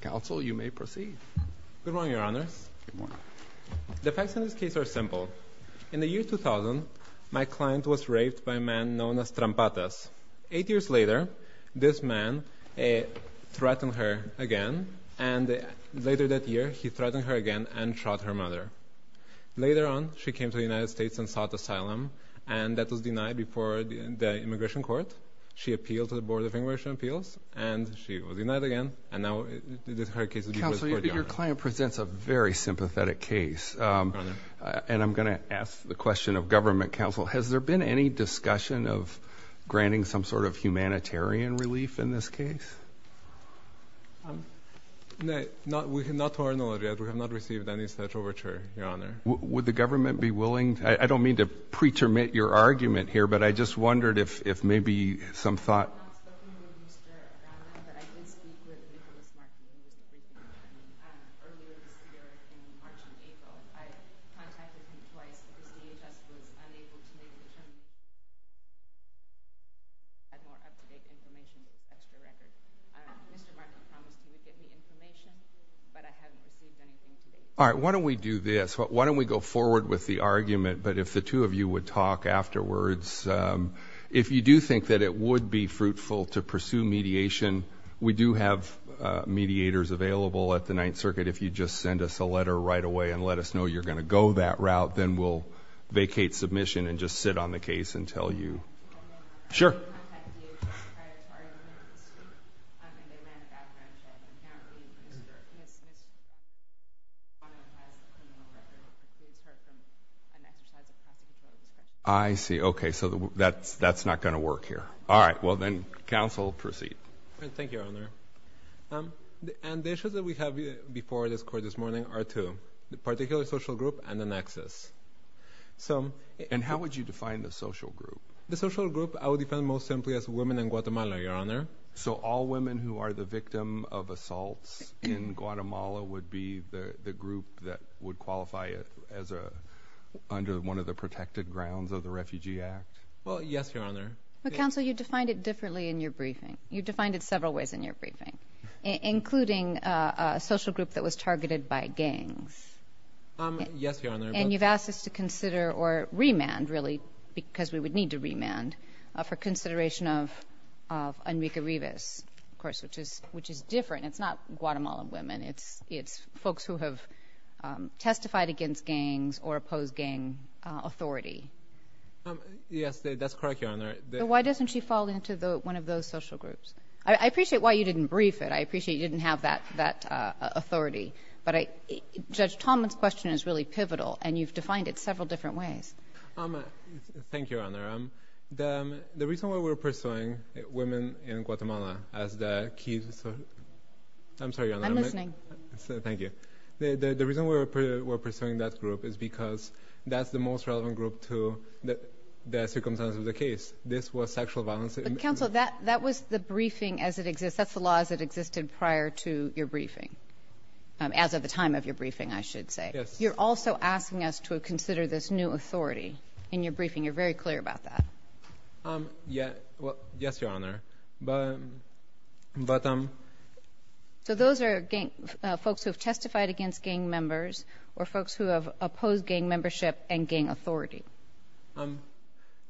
Counsel, you may proceed. Good morning, Your Honors. The facts in this case are simple. In the year 2000, my client was raped by a man known as Trampatas. Eight years later, this man threatened her again, and later that year, he threatened her again and shot her mother. Later on, she came to the United States and sought asylum, and that was denied before the immigration court. She appealed to the court. Counsel, your client presents a very sympathetic case, and I'm going to ask the question of government counsel. Has there been any discussion of granting some sort of humanitarian relief in this case? No, not to our knowledge, we have not received any such overture, Your Honor. Would the government be willing, I don't mean to pretermine your argument here, but I just wondered if maybe some thoughts? All right, why don't we do this? Why don't we go forward with the argument, but if the two of you would talk afterwards. If you do think that it would be fruitful to pursue mediation, we do have mediators available at the Ninth Circuit. If you just send us a letter right away and let us know you're going to go that route, then we'll vacate submission and just sit on the case and tell you. Sure. I see, okay, so that's not going to work here. All right, well then, counsel, proceed. Thank you, Your Honor. And the issues that we have before this court this morning are two, the particular social group and the nexus. And how would you define the social group? The social group, I would define most simply as women in Guatemala, Your Honor. So all women who are the victim of assaults in Guatemala would be the group that would qualify as under one of the protected grounds of the Refugee Act? Well, yes, Your Honor. But, counsel, you defined it differently in your briefing. You defined it several ways in your briefing, including a social group that was targeted by gangs. Yes, Your Honor. And you've asked us to consider or remand, really, because we would need to remand, for consideration of Enrique Rivas, of course, which is different. It's not Guatemalan women. It's folks who have testified against gangs or oppose gang authority. Yes, that's correct, Your Honor. Why doesn't she fall into one of those social groups? I appreciate why you didn't brief it. I appreciate you didn't have that authority. But Judge Tomlin's question is really pivotal, and you've defined it several different ways. Thank you, Your Honor. The reason we're pursuing women in Guatemala as the key... I'm sorry, Your Honor. I'm listening. Thank you. The reason we're pursuing that group is because that's the most relevant group to the circumstances of the case. This was sexual violence... But, counsel, that was the briefing as it exists. That's the law as it existed prior to your briefing, as of the time of your briefing, I should say. Yes. You're also asking us to consider this new authority in your briefing. You're very clear about that. Yes, Your Honor. So those are folks who have testified against gang members or folks who have opposed gang membership and gang authority.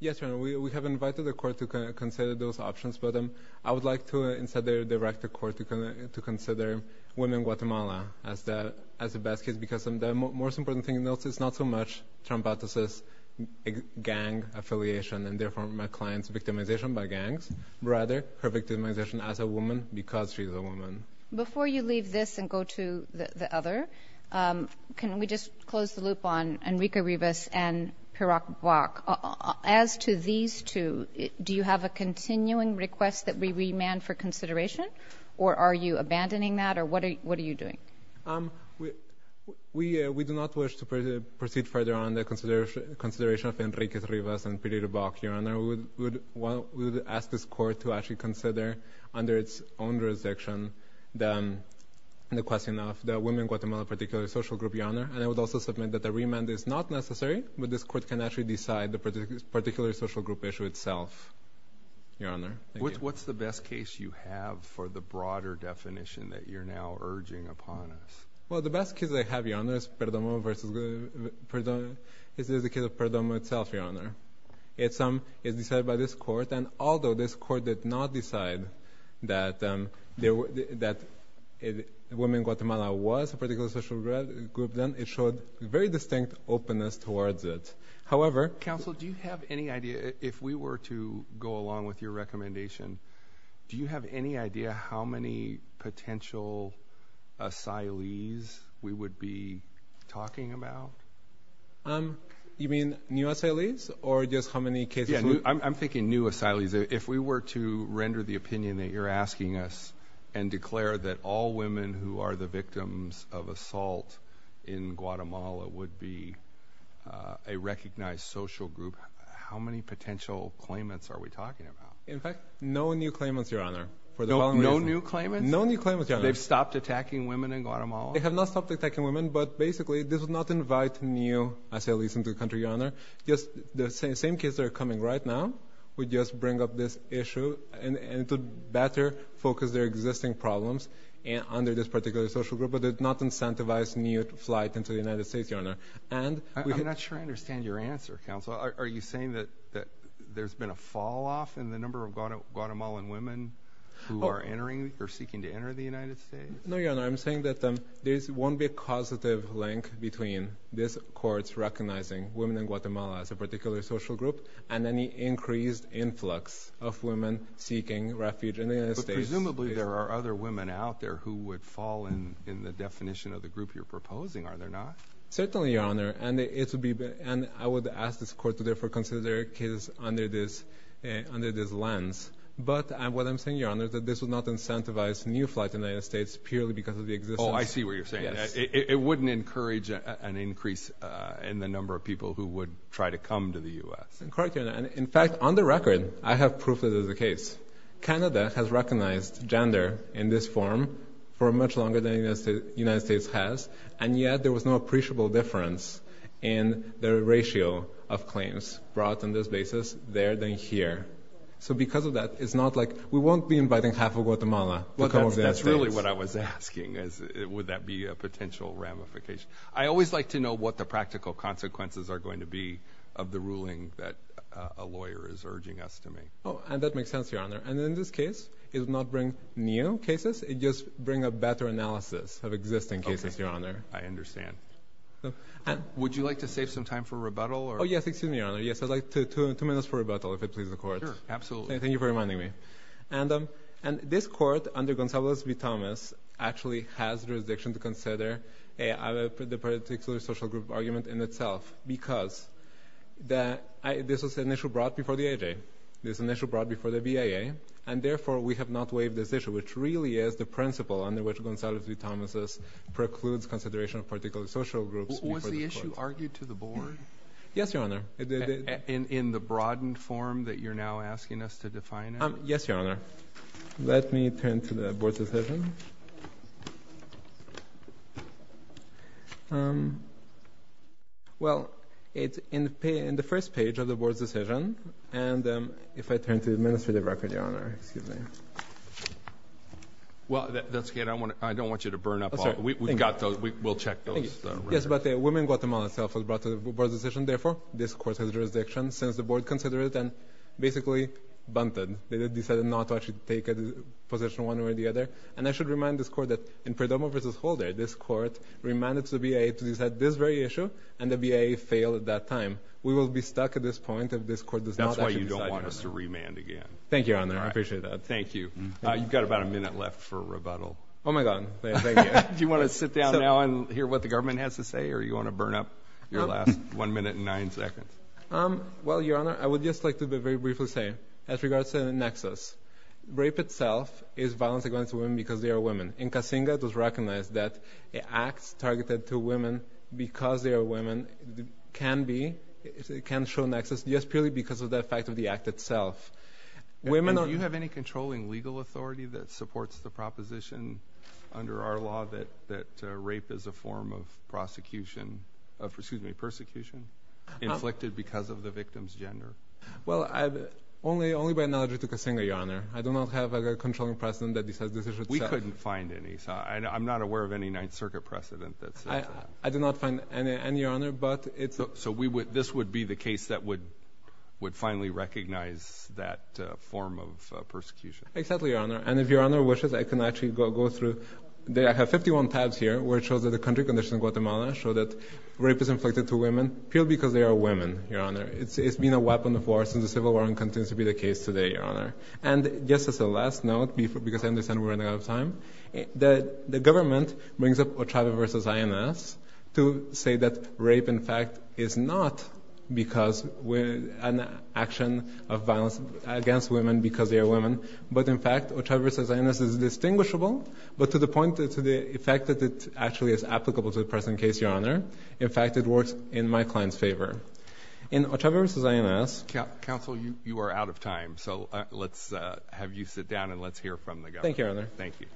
Yes, Your Honor. We have invited the court to consider those options, but I would like to instead direct the court to consider women in Guatemala as the best case because the most important thing is not so much Trump's gang affiliation and, therefore, my client's victimization by gangs. Rather, her victimization as a woman because she's a woman. Before you leave this and go to the other, can we just close the loop on Enrique Rivas and Pirac Blac? As to these two, do you have a continuing request that we remand for consideration, or are you abandoning that, or what are you doing? We do not wish to proceed further on the consideration of Enrique Rivas and Pirac Blac, Your Honor. We would ask this court to actually consider, under its own jurisdiction, the question of the women in Guatemala, particularly social group, Your Honor. And I would also submit that the remand is not necessary, but this court can actually decide the particular social group issue itself, Your Honor. What's the best case you have for the broader definition that you're now urging upon us? Well, the best case I have, Your Honor, is Perdomo versus Perdomo. This is the case of Perdomo itself, Your Honor. It's decided by this court, and although this court did not decide that women in Guatemala was a particular social group, then it showed very distinct openness towards it. However, counsel, do you have any idea, if we were to go along with your recommendation, do you have any idea how many potential asylees we would be talking about? You mean new asylees, or just how many cases? I'm thinking new asylees. If we were to render the opinion that you're asking us and declare that all women who are the victims of assault in Guatemala would be a recognized social group, how many potential claimants are we talking about? In fact, no new claimants, Your Honor. No new claimants? No new claimants, Your Honor. They've stopped attacking women in Guatemala? They have not stopped attacking women, but basically, this would not invite new asylees into the country, Your Honor. Just the same case that are coming right now would just bring up this issue, and it would better focus their existing problems under this particular social group, but it would not incentivize new flight into the United States, Your Honor. I'm not sure I understand your answer, counsel. Are you saying that there's been a fall-off in the number of Guatemalan women who are entering or seeking to enter the United States? No, Your Honor. I'm saying that there won't be a causative link between this Court's recognizing women in Guatemala as a particular social group and any increased influx of women seeking refuge in the United States. Presumably, there are other women out there who would fall in the definition of the group you're proposing, are there not? Certainly, Your Honor, and I would ask this Court to therefore consider their cases under this lens, but what I'm saying, Your Honor, is that this would not incentivize new flight to the United States purely because of the existence. Oh, I see what you're saying. It wouldn't encourage an increase in the number of people who would try to come to the U.S. In fact, on the record, I have proof that is the case. Canada has recognized gender in this form for much longer than the United States has, and yet there was no appreciable difference in the ratio of claims brought on this basis there than here. So because of that, it's not like we won't be inviting half of Guatemala to come to the United States. That's really what I was asking. Would that be a potential ramification? I always like to know what the practical consequences are going to be of the ruling that a lawyer is urging us to make. Oh, and that makes sense, Your Honor, and in this case, it will not bring new cases, it just brings a better analysis of existing cases, Your Honor. I understand. Would you like to save some time for rebuttal? Oh yes, excuse me, Your Honor. Yes, I'd like two minutes for rebuttal, if it pleases the Court. Sure, absolutely. Thank you for reminding me. And this Court, under Gonzalez v. Thomas, actually has the jurisdiction to consider the particular social group argument in itself, because this was an issue brought before the AHA, this was an issue brought before the BIA, and therefore we have not waived this issue, which really is the principle under which Gonzalez v. Thomas precludes consideration of particular social groups. Was the issue argued to the Board? Yes, Your Honor. In the broadened form that you're now Well, it's in the first page of the Board's decision, and if I turn to the administrative record, Your Honor, excuse me. Well, that's good. I don't want you to burn up. We've got those, we'll check those. Yes, but the Women in Guatemala itself was brought to the Board's decision, therefore this Court has jurisdiction, since the Board considered it and basically bunted. They decided not to actually take a one way or the other, and I should remind this Court that in Perdomo v. Holder, this Court reminded the BIA to decide this very issue, and the BIA failed at that time. We will be stuck at this point if this Court does not actually decide to remand. That's why you don't want us to remand again. Thank you, Your Honor, I appreciate that. Thank you. You've got about a minute left for rebuttal. Oh my god, thank you. Do you want to sit down now and hear what the government has to say, or you want to burn up your last one minute and nine seconds? Well, Your Honor, I would just like to be very briefly say, as regards to the nexus, rape itself is violence against women because they are women, and Casinga does recognize that acts targeted to women because they are women can be, can show nexus, just purely because of the effect of the act itself. Do you have any controlling legal authority that supports the proposition under our law that that rape is a form of prosecution, excuse me, persecution, inflicted because of the victim's gender? Well, only by allegory to Casinga, Your Honor. I do not have a controlling precedent that decides this issue itself. We couldn't find any. I'm not aware of any Ninth Circuit precedent that says that. I did not find any, Your Honor, but it's... So this would be the case that would finally recognize that form of persecution. Exactly, Your Honor, and if Your Honor wishes, I can actually go through. I have 51 tabs here where it shows that the country condition in Guatemala show that rape is inflicted to women purely because they are women, Your Honor. It's been a weapon of war since the Civil War and continues to be the case today, Your Honor. And just as a last note, because I understand we're running out of time, the government brings up Ochave v. INS to say that rape, in fact, is not because with an action of violence against women because they are women, but in fact Ochave v. INS is distinguishable, but to the point, to the effect that it actually is applicable to the present case, Your Honor. In fact, it works in my client's opinion. Thank you, Your Honor. Thank you, Mr. INS. Counsel, you are out of time, so let's have you sit down and let's hear from the government. Thank you, Your Honor. Thank you.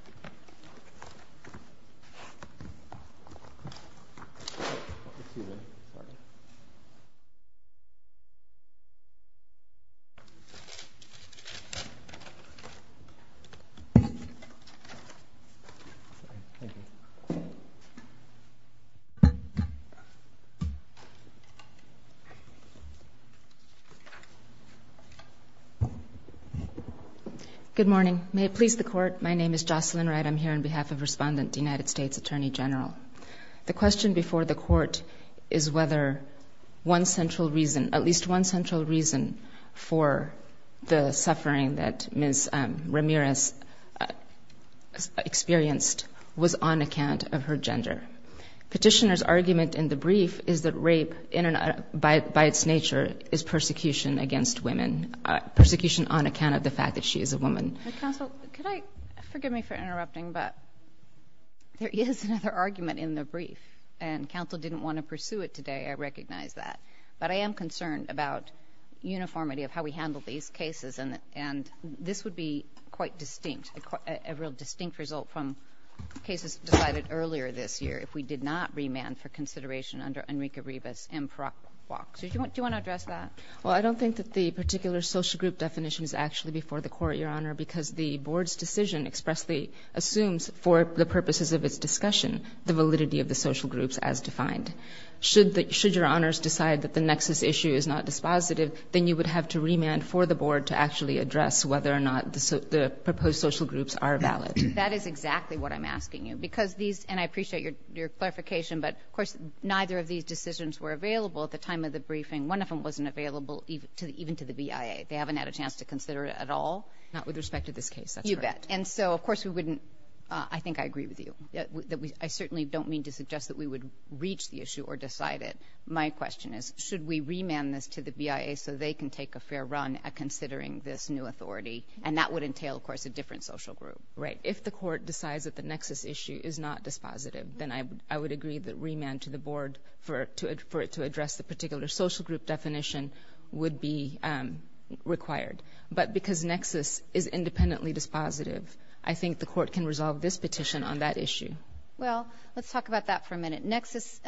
Good morning. May it please the court, my name is Jocelyn Wright. I'm here on behalf of Respondent, United States Attorney General. The question before the court is whether one central reason, at least one central reason for the suffering that Ms. Ramirez experienced was on account of her gender. Petitioner's argument in the brief is that rape, by its nature, is perpetrated by a woman. Persecution against women. Persecution on account of the fact that she is a woman. Counsel, could I, forgive me for interrupting, but there is another argument in the brief, and counsel didn't want to pursue it today, I recognize that. But I am concerned about uniformity of how we handle these cases, and this would be quite distinct, a real distinct result from cases decided earlier this year if we did not remand for consideration under Enrique Ribas and Paraguax. Do you want to address that? Well, I don't think that the particular social group definition is actually before the court, Your Honor, because the board's decision expressly assumes for the purposes of its discussion the validity of the social groups as defined. Should your Honors decide that the nexus issue is not dispositive, then you would have to remand for the board to actually address whether or not the proposed social groups are valid. That is exactly what I'm asking you, because these, and I appreciate your clarification, but of course, neither of these decisions were available at the time of the briefing. One of them wasn't available even to the BIA. They haven't had a chance to consider it at all? Not with respect to this case. You bet. And so, of course, we wouldn't, I think I agree with you. I certainly don't mean to suggest that we would reach the issue or decide it. My question is, should we remand this to the BIA so they can take a fair run at considering this new authority? And that would entail, of course, a different social group. Right. If the court decides that the nexus issue is not dispositive, then I would agree that remand to the board for it to address the particular social group definition would be required. But because nexus is independently dispositive, I think the court can resolve this petition on that issue. Well, let's talk about that for a minute. Nexus,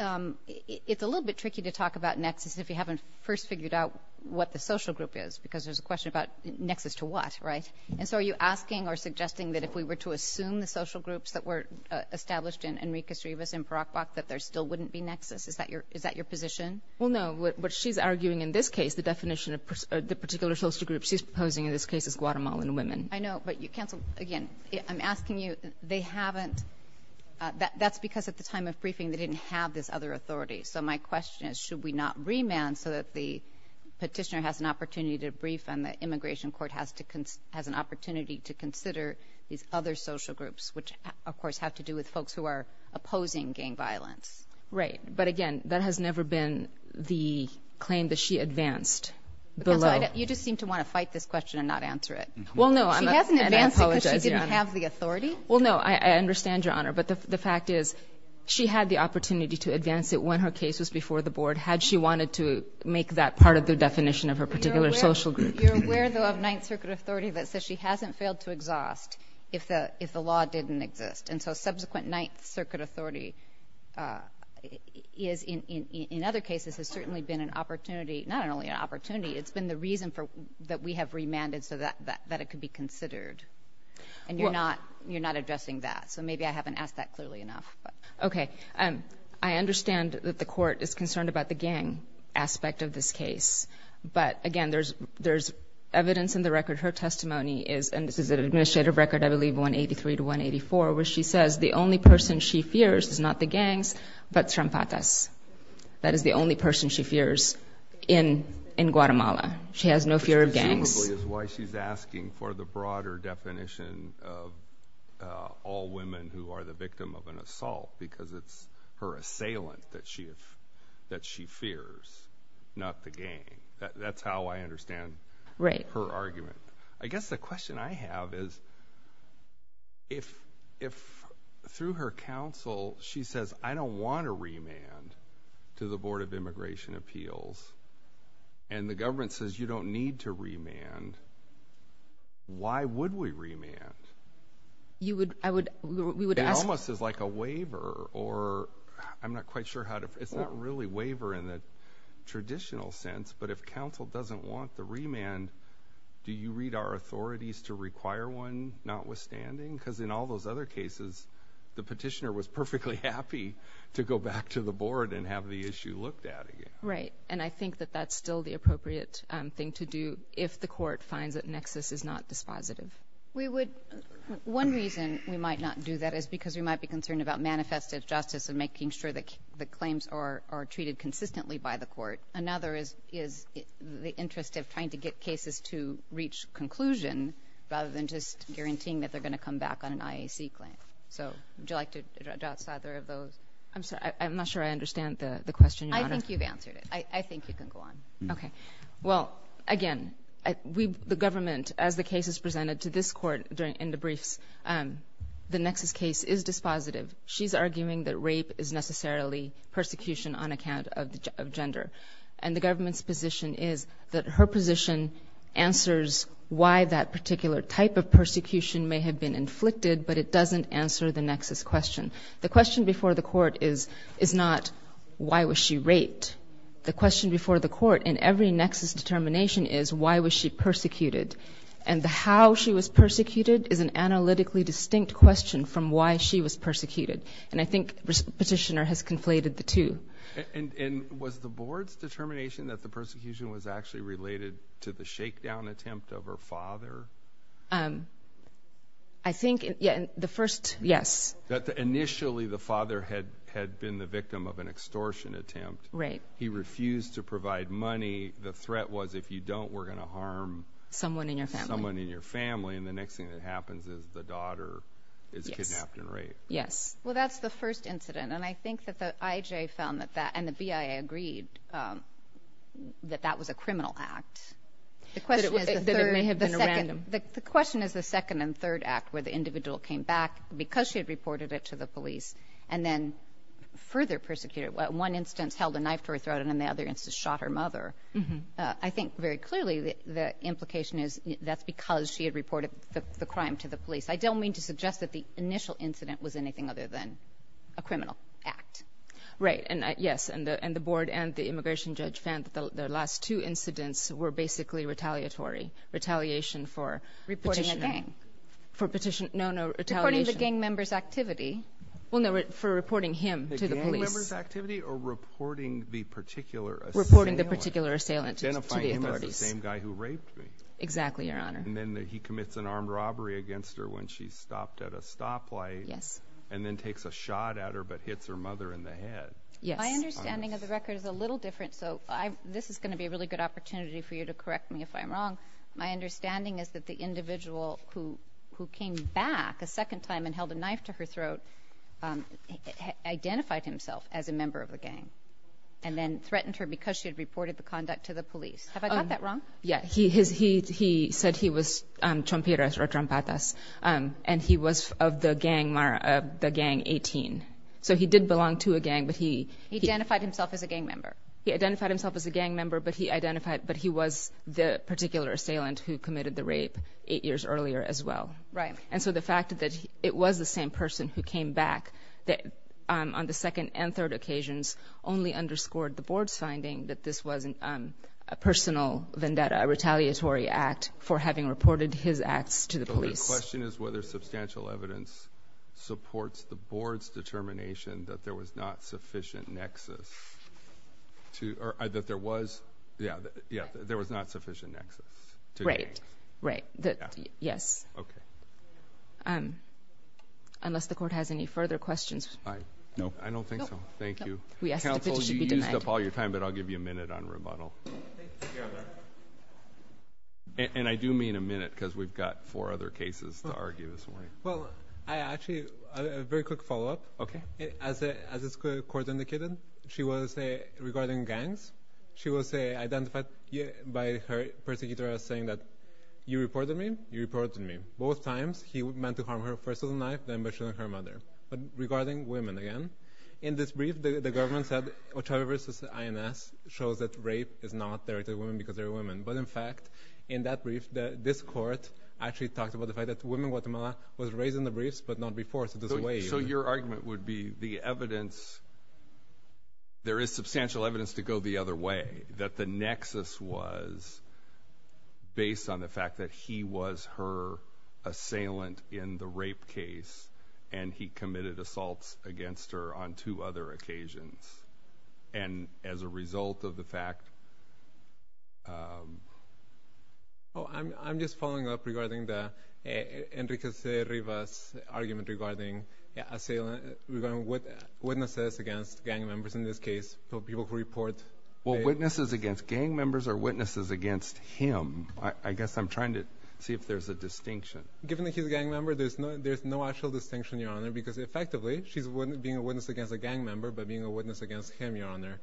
it's a little bit tricky to talk about nexus if you haven't first figured out what the social group is, because there's a question about nexus to what, right? And so are you asking or suggesting that if we were to assume the social groups that were established in Enrique Estribas in Paraguay, that there still wouldn't be nexus? Is that your is that your position? Well, no, what she's arguing in this case, the definition of the particular social group she's proposing in this case is Guatemalan women. I know. But you cancel again. I'm asking you. They haven't. That's because at the time of briefing, they didn't have this other authority. So my question is, should we not remand so that the petitioner has an opportunity to brief and the immigration court has to has an opportunity to consider these other social groups, which, of course, have to do with folks who are opposing gang violence? Right. But again, that has never been the claim that she advanced the law. You just seem to want to fight this question and not answer it. Well, no, she hasn't. And I apologize. She didn't have the authority. Well, no, I understand, Your Honor. But the fact is she had the opportunity to advance it when her case was before the board. Had she wanted to make that part of the definition of her particular social group. You're aware, though, of Ninth Circuit authority that says she hasn't failed to exhaust if the if the law didn't exist. And so subsequent Ninth Circuit authority is in other cases has certainly been an opportunity, not only an opportunity, it's been the reason for that we have remanded so that that it could be considered. And you're not you're not addressing that. So maybe I haven't asked that clearly enough. OK. I understand that the court is concerned about the gang aspect of this case. But again, there's there's evidence in the record. Her testimony is and this is an administrative record, I believe, 183 to 184, where she says the only person she fears is not the gangs, but Trampatas. That is the only person she fears in in Guatemala. She has no fear of gangs, which presumably is why she's asking for the broader definition of all women who are the victim of an assault, because it's her assailant that she that she fears, not the gang. That's how I understand her argument. I guess the question I have is. If if through her counsel, she says, I don't want to remand to the Board of Immigration Appeals. And the government says you don't need to remand. Why would we remand? You would I would we would almost is like a waiver or I'm not quite sure how to. It's not really waiver in the traditional sense. But if counsel doesn't want the remand, do you read our authorities to require one notwithstanding? Because in all those other cases, the petitioner was perfectly happy to go back to the board and have the issue looked at again. Right. And I think that that's still the appropriate thing to do if the court finds that nexus is not dispositive. We would. One reason we might not do that is because we might be concerned about manifest of justice and making sure that the claims are treated consistently by the court. Another is is the interest of trying to get cases to reach conclusion rather than just guaranteeing that they're going to come back on an IAC claim. So would you like to address either of those? I'm sorry, I'm not sure I understand the question. I think you've answered it. I think you can go on. OK, well, again, we the government, as the case is presented to this court during in the briefs, the nexus case is dispositive. She's arguing that rape is necessarily persecution on account of gender. And the government's position is that her position answers why that particular type of persecution may have been inflicted. But it doesn't answer the nexus question. The question before the court is is not why was she raped? The question before the court in every nexus determination is why was she persecuted? And how she was persecuted is an analytically distinct question from why she was persecuted. And I think Petitioner has conflated the two. And was the board's determination that the persecution was actually related to the shakedown attempt of her father? I think, yeah, the first, yes. That initially the father had been the victim of an extortion attempt. Right. He refused to provide money. The threat was if you don't, we're going to harm someone in your family. And the next thing that happens is the daughter is kidnapped and raped. Yes. Well, that's the first incident. And I think that the IJ found that that and the BIA agreed that that was a criminal act. The question is the second and third act where the individual came back because she had reported it to the police and then further persecuted. One instance held a knife to her throat and then the other instance shot her mother. I think very clearly the implication is that's because she had reported the crime to the police. I don't mean to suggest that the initial incident was anything other than a criminal act. Right. And yes, and the and the board and the immigration judge found that the last two incidents were basically retaliatory retaliation for reporting a gang for petition. No, no. It's according to gang members activity. Well, no, for reporting him to the police activity or reporting the particular reporting, the particular assailant, identifying the same guy who raped me. Exactly. Your Honor. And then he commits an armed robbery against her when she stopped at a stoplight. Yes. And then takes a shot at her, but hits her mother in the head. Yes. My understanding of the record is a little different. So this is going to be a really good opportunity for you to correct me if I'm wrong. My understanding is that the individual who who came back a second time and held a knife to her throat identified himself as a member of a gang and then threatened her because she had reported the conduct to the police. Have I got that wrong? Yeah, he has. He he said he was Trump or Trump and he was of the gang, the gang 18. So he did belong to a gang, but he identified himself as a gang member. He identified himself as a gang member, but he identified but he was the particular assailant who committed the rape eight years earlier as well. Right. And so the fact that it was the same person who came back on the second and third occasions only underscored the board's finding that this wasn't a personal vendetta, a retaliatory act for having reported his acts to the police. The question is whether substantial evidence supports the board's determination that there was not sufficient nexus to or that there was yeah, yeah, there was not sufficient nexus to right, right. That yes. Okay. Um, unless the court has any further questions, I know I don't think so. Thank you. We asked you to use up all your time, but I'll give you a minute on rebuttal. Thank you. And I do mean a minute because we've got four other cases to argue this morning. Well, I actually a very quick follow up. Okay. As a, as this court indicated, she was a regarding gangs. She will say identified by her persecutor as saying that you reported me, you reported me both times. He meant to harm her first of the knife, then by shooting her mother. But regarding women again, in this brief, the government said, which I versus the INS shows that rape is not there to women because they're women. But in fact, in that brief, the, this court actually talked about the fact that women, Guatemala was raised in the briefs, but not before. So this way, so your argument would be the evidence. There is substantial evidence to go the other way that the nexus was based on the fact that he was her assailant in the rape case. And he committed assaults against her on two other occasions. And as a result of the fact. Oh, I'm, I'm just following up regarding the intricacy reverse argument regarding assailant with witnesses against gang members in this case. So people who report. Well, witnesses against gang members are witnesses against him. I guess I'm trying to see if there's a distinction. Given that he's a gang member, there's no, there's no actual distinction, your honor, because effectively she's wouldn't being a witness against a gang member, but being a witness against him, your honor.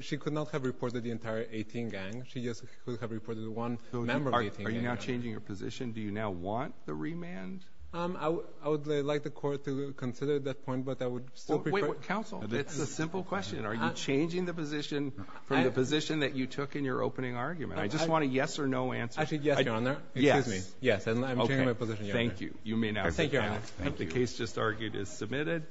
She could not have reported the entire 18 gang. She just could have reported one member. Are you now changing your position? Do you now want the remand? Um, I would, I would like the court to consider that point, but that would still be council. It's a simple question. Are you changing the position from the position that you took in your opening argument? I just want a yes or no answer. I should. Yes, your honor. Yes. Yes. I'm changing my position, your honor. Thank you. You may now go. Thank you, your honor. The case just argued is submitted.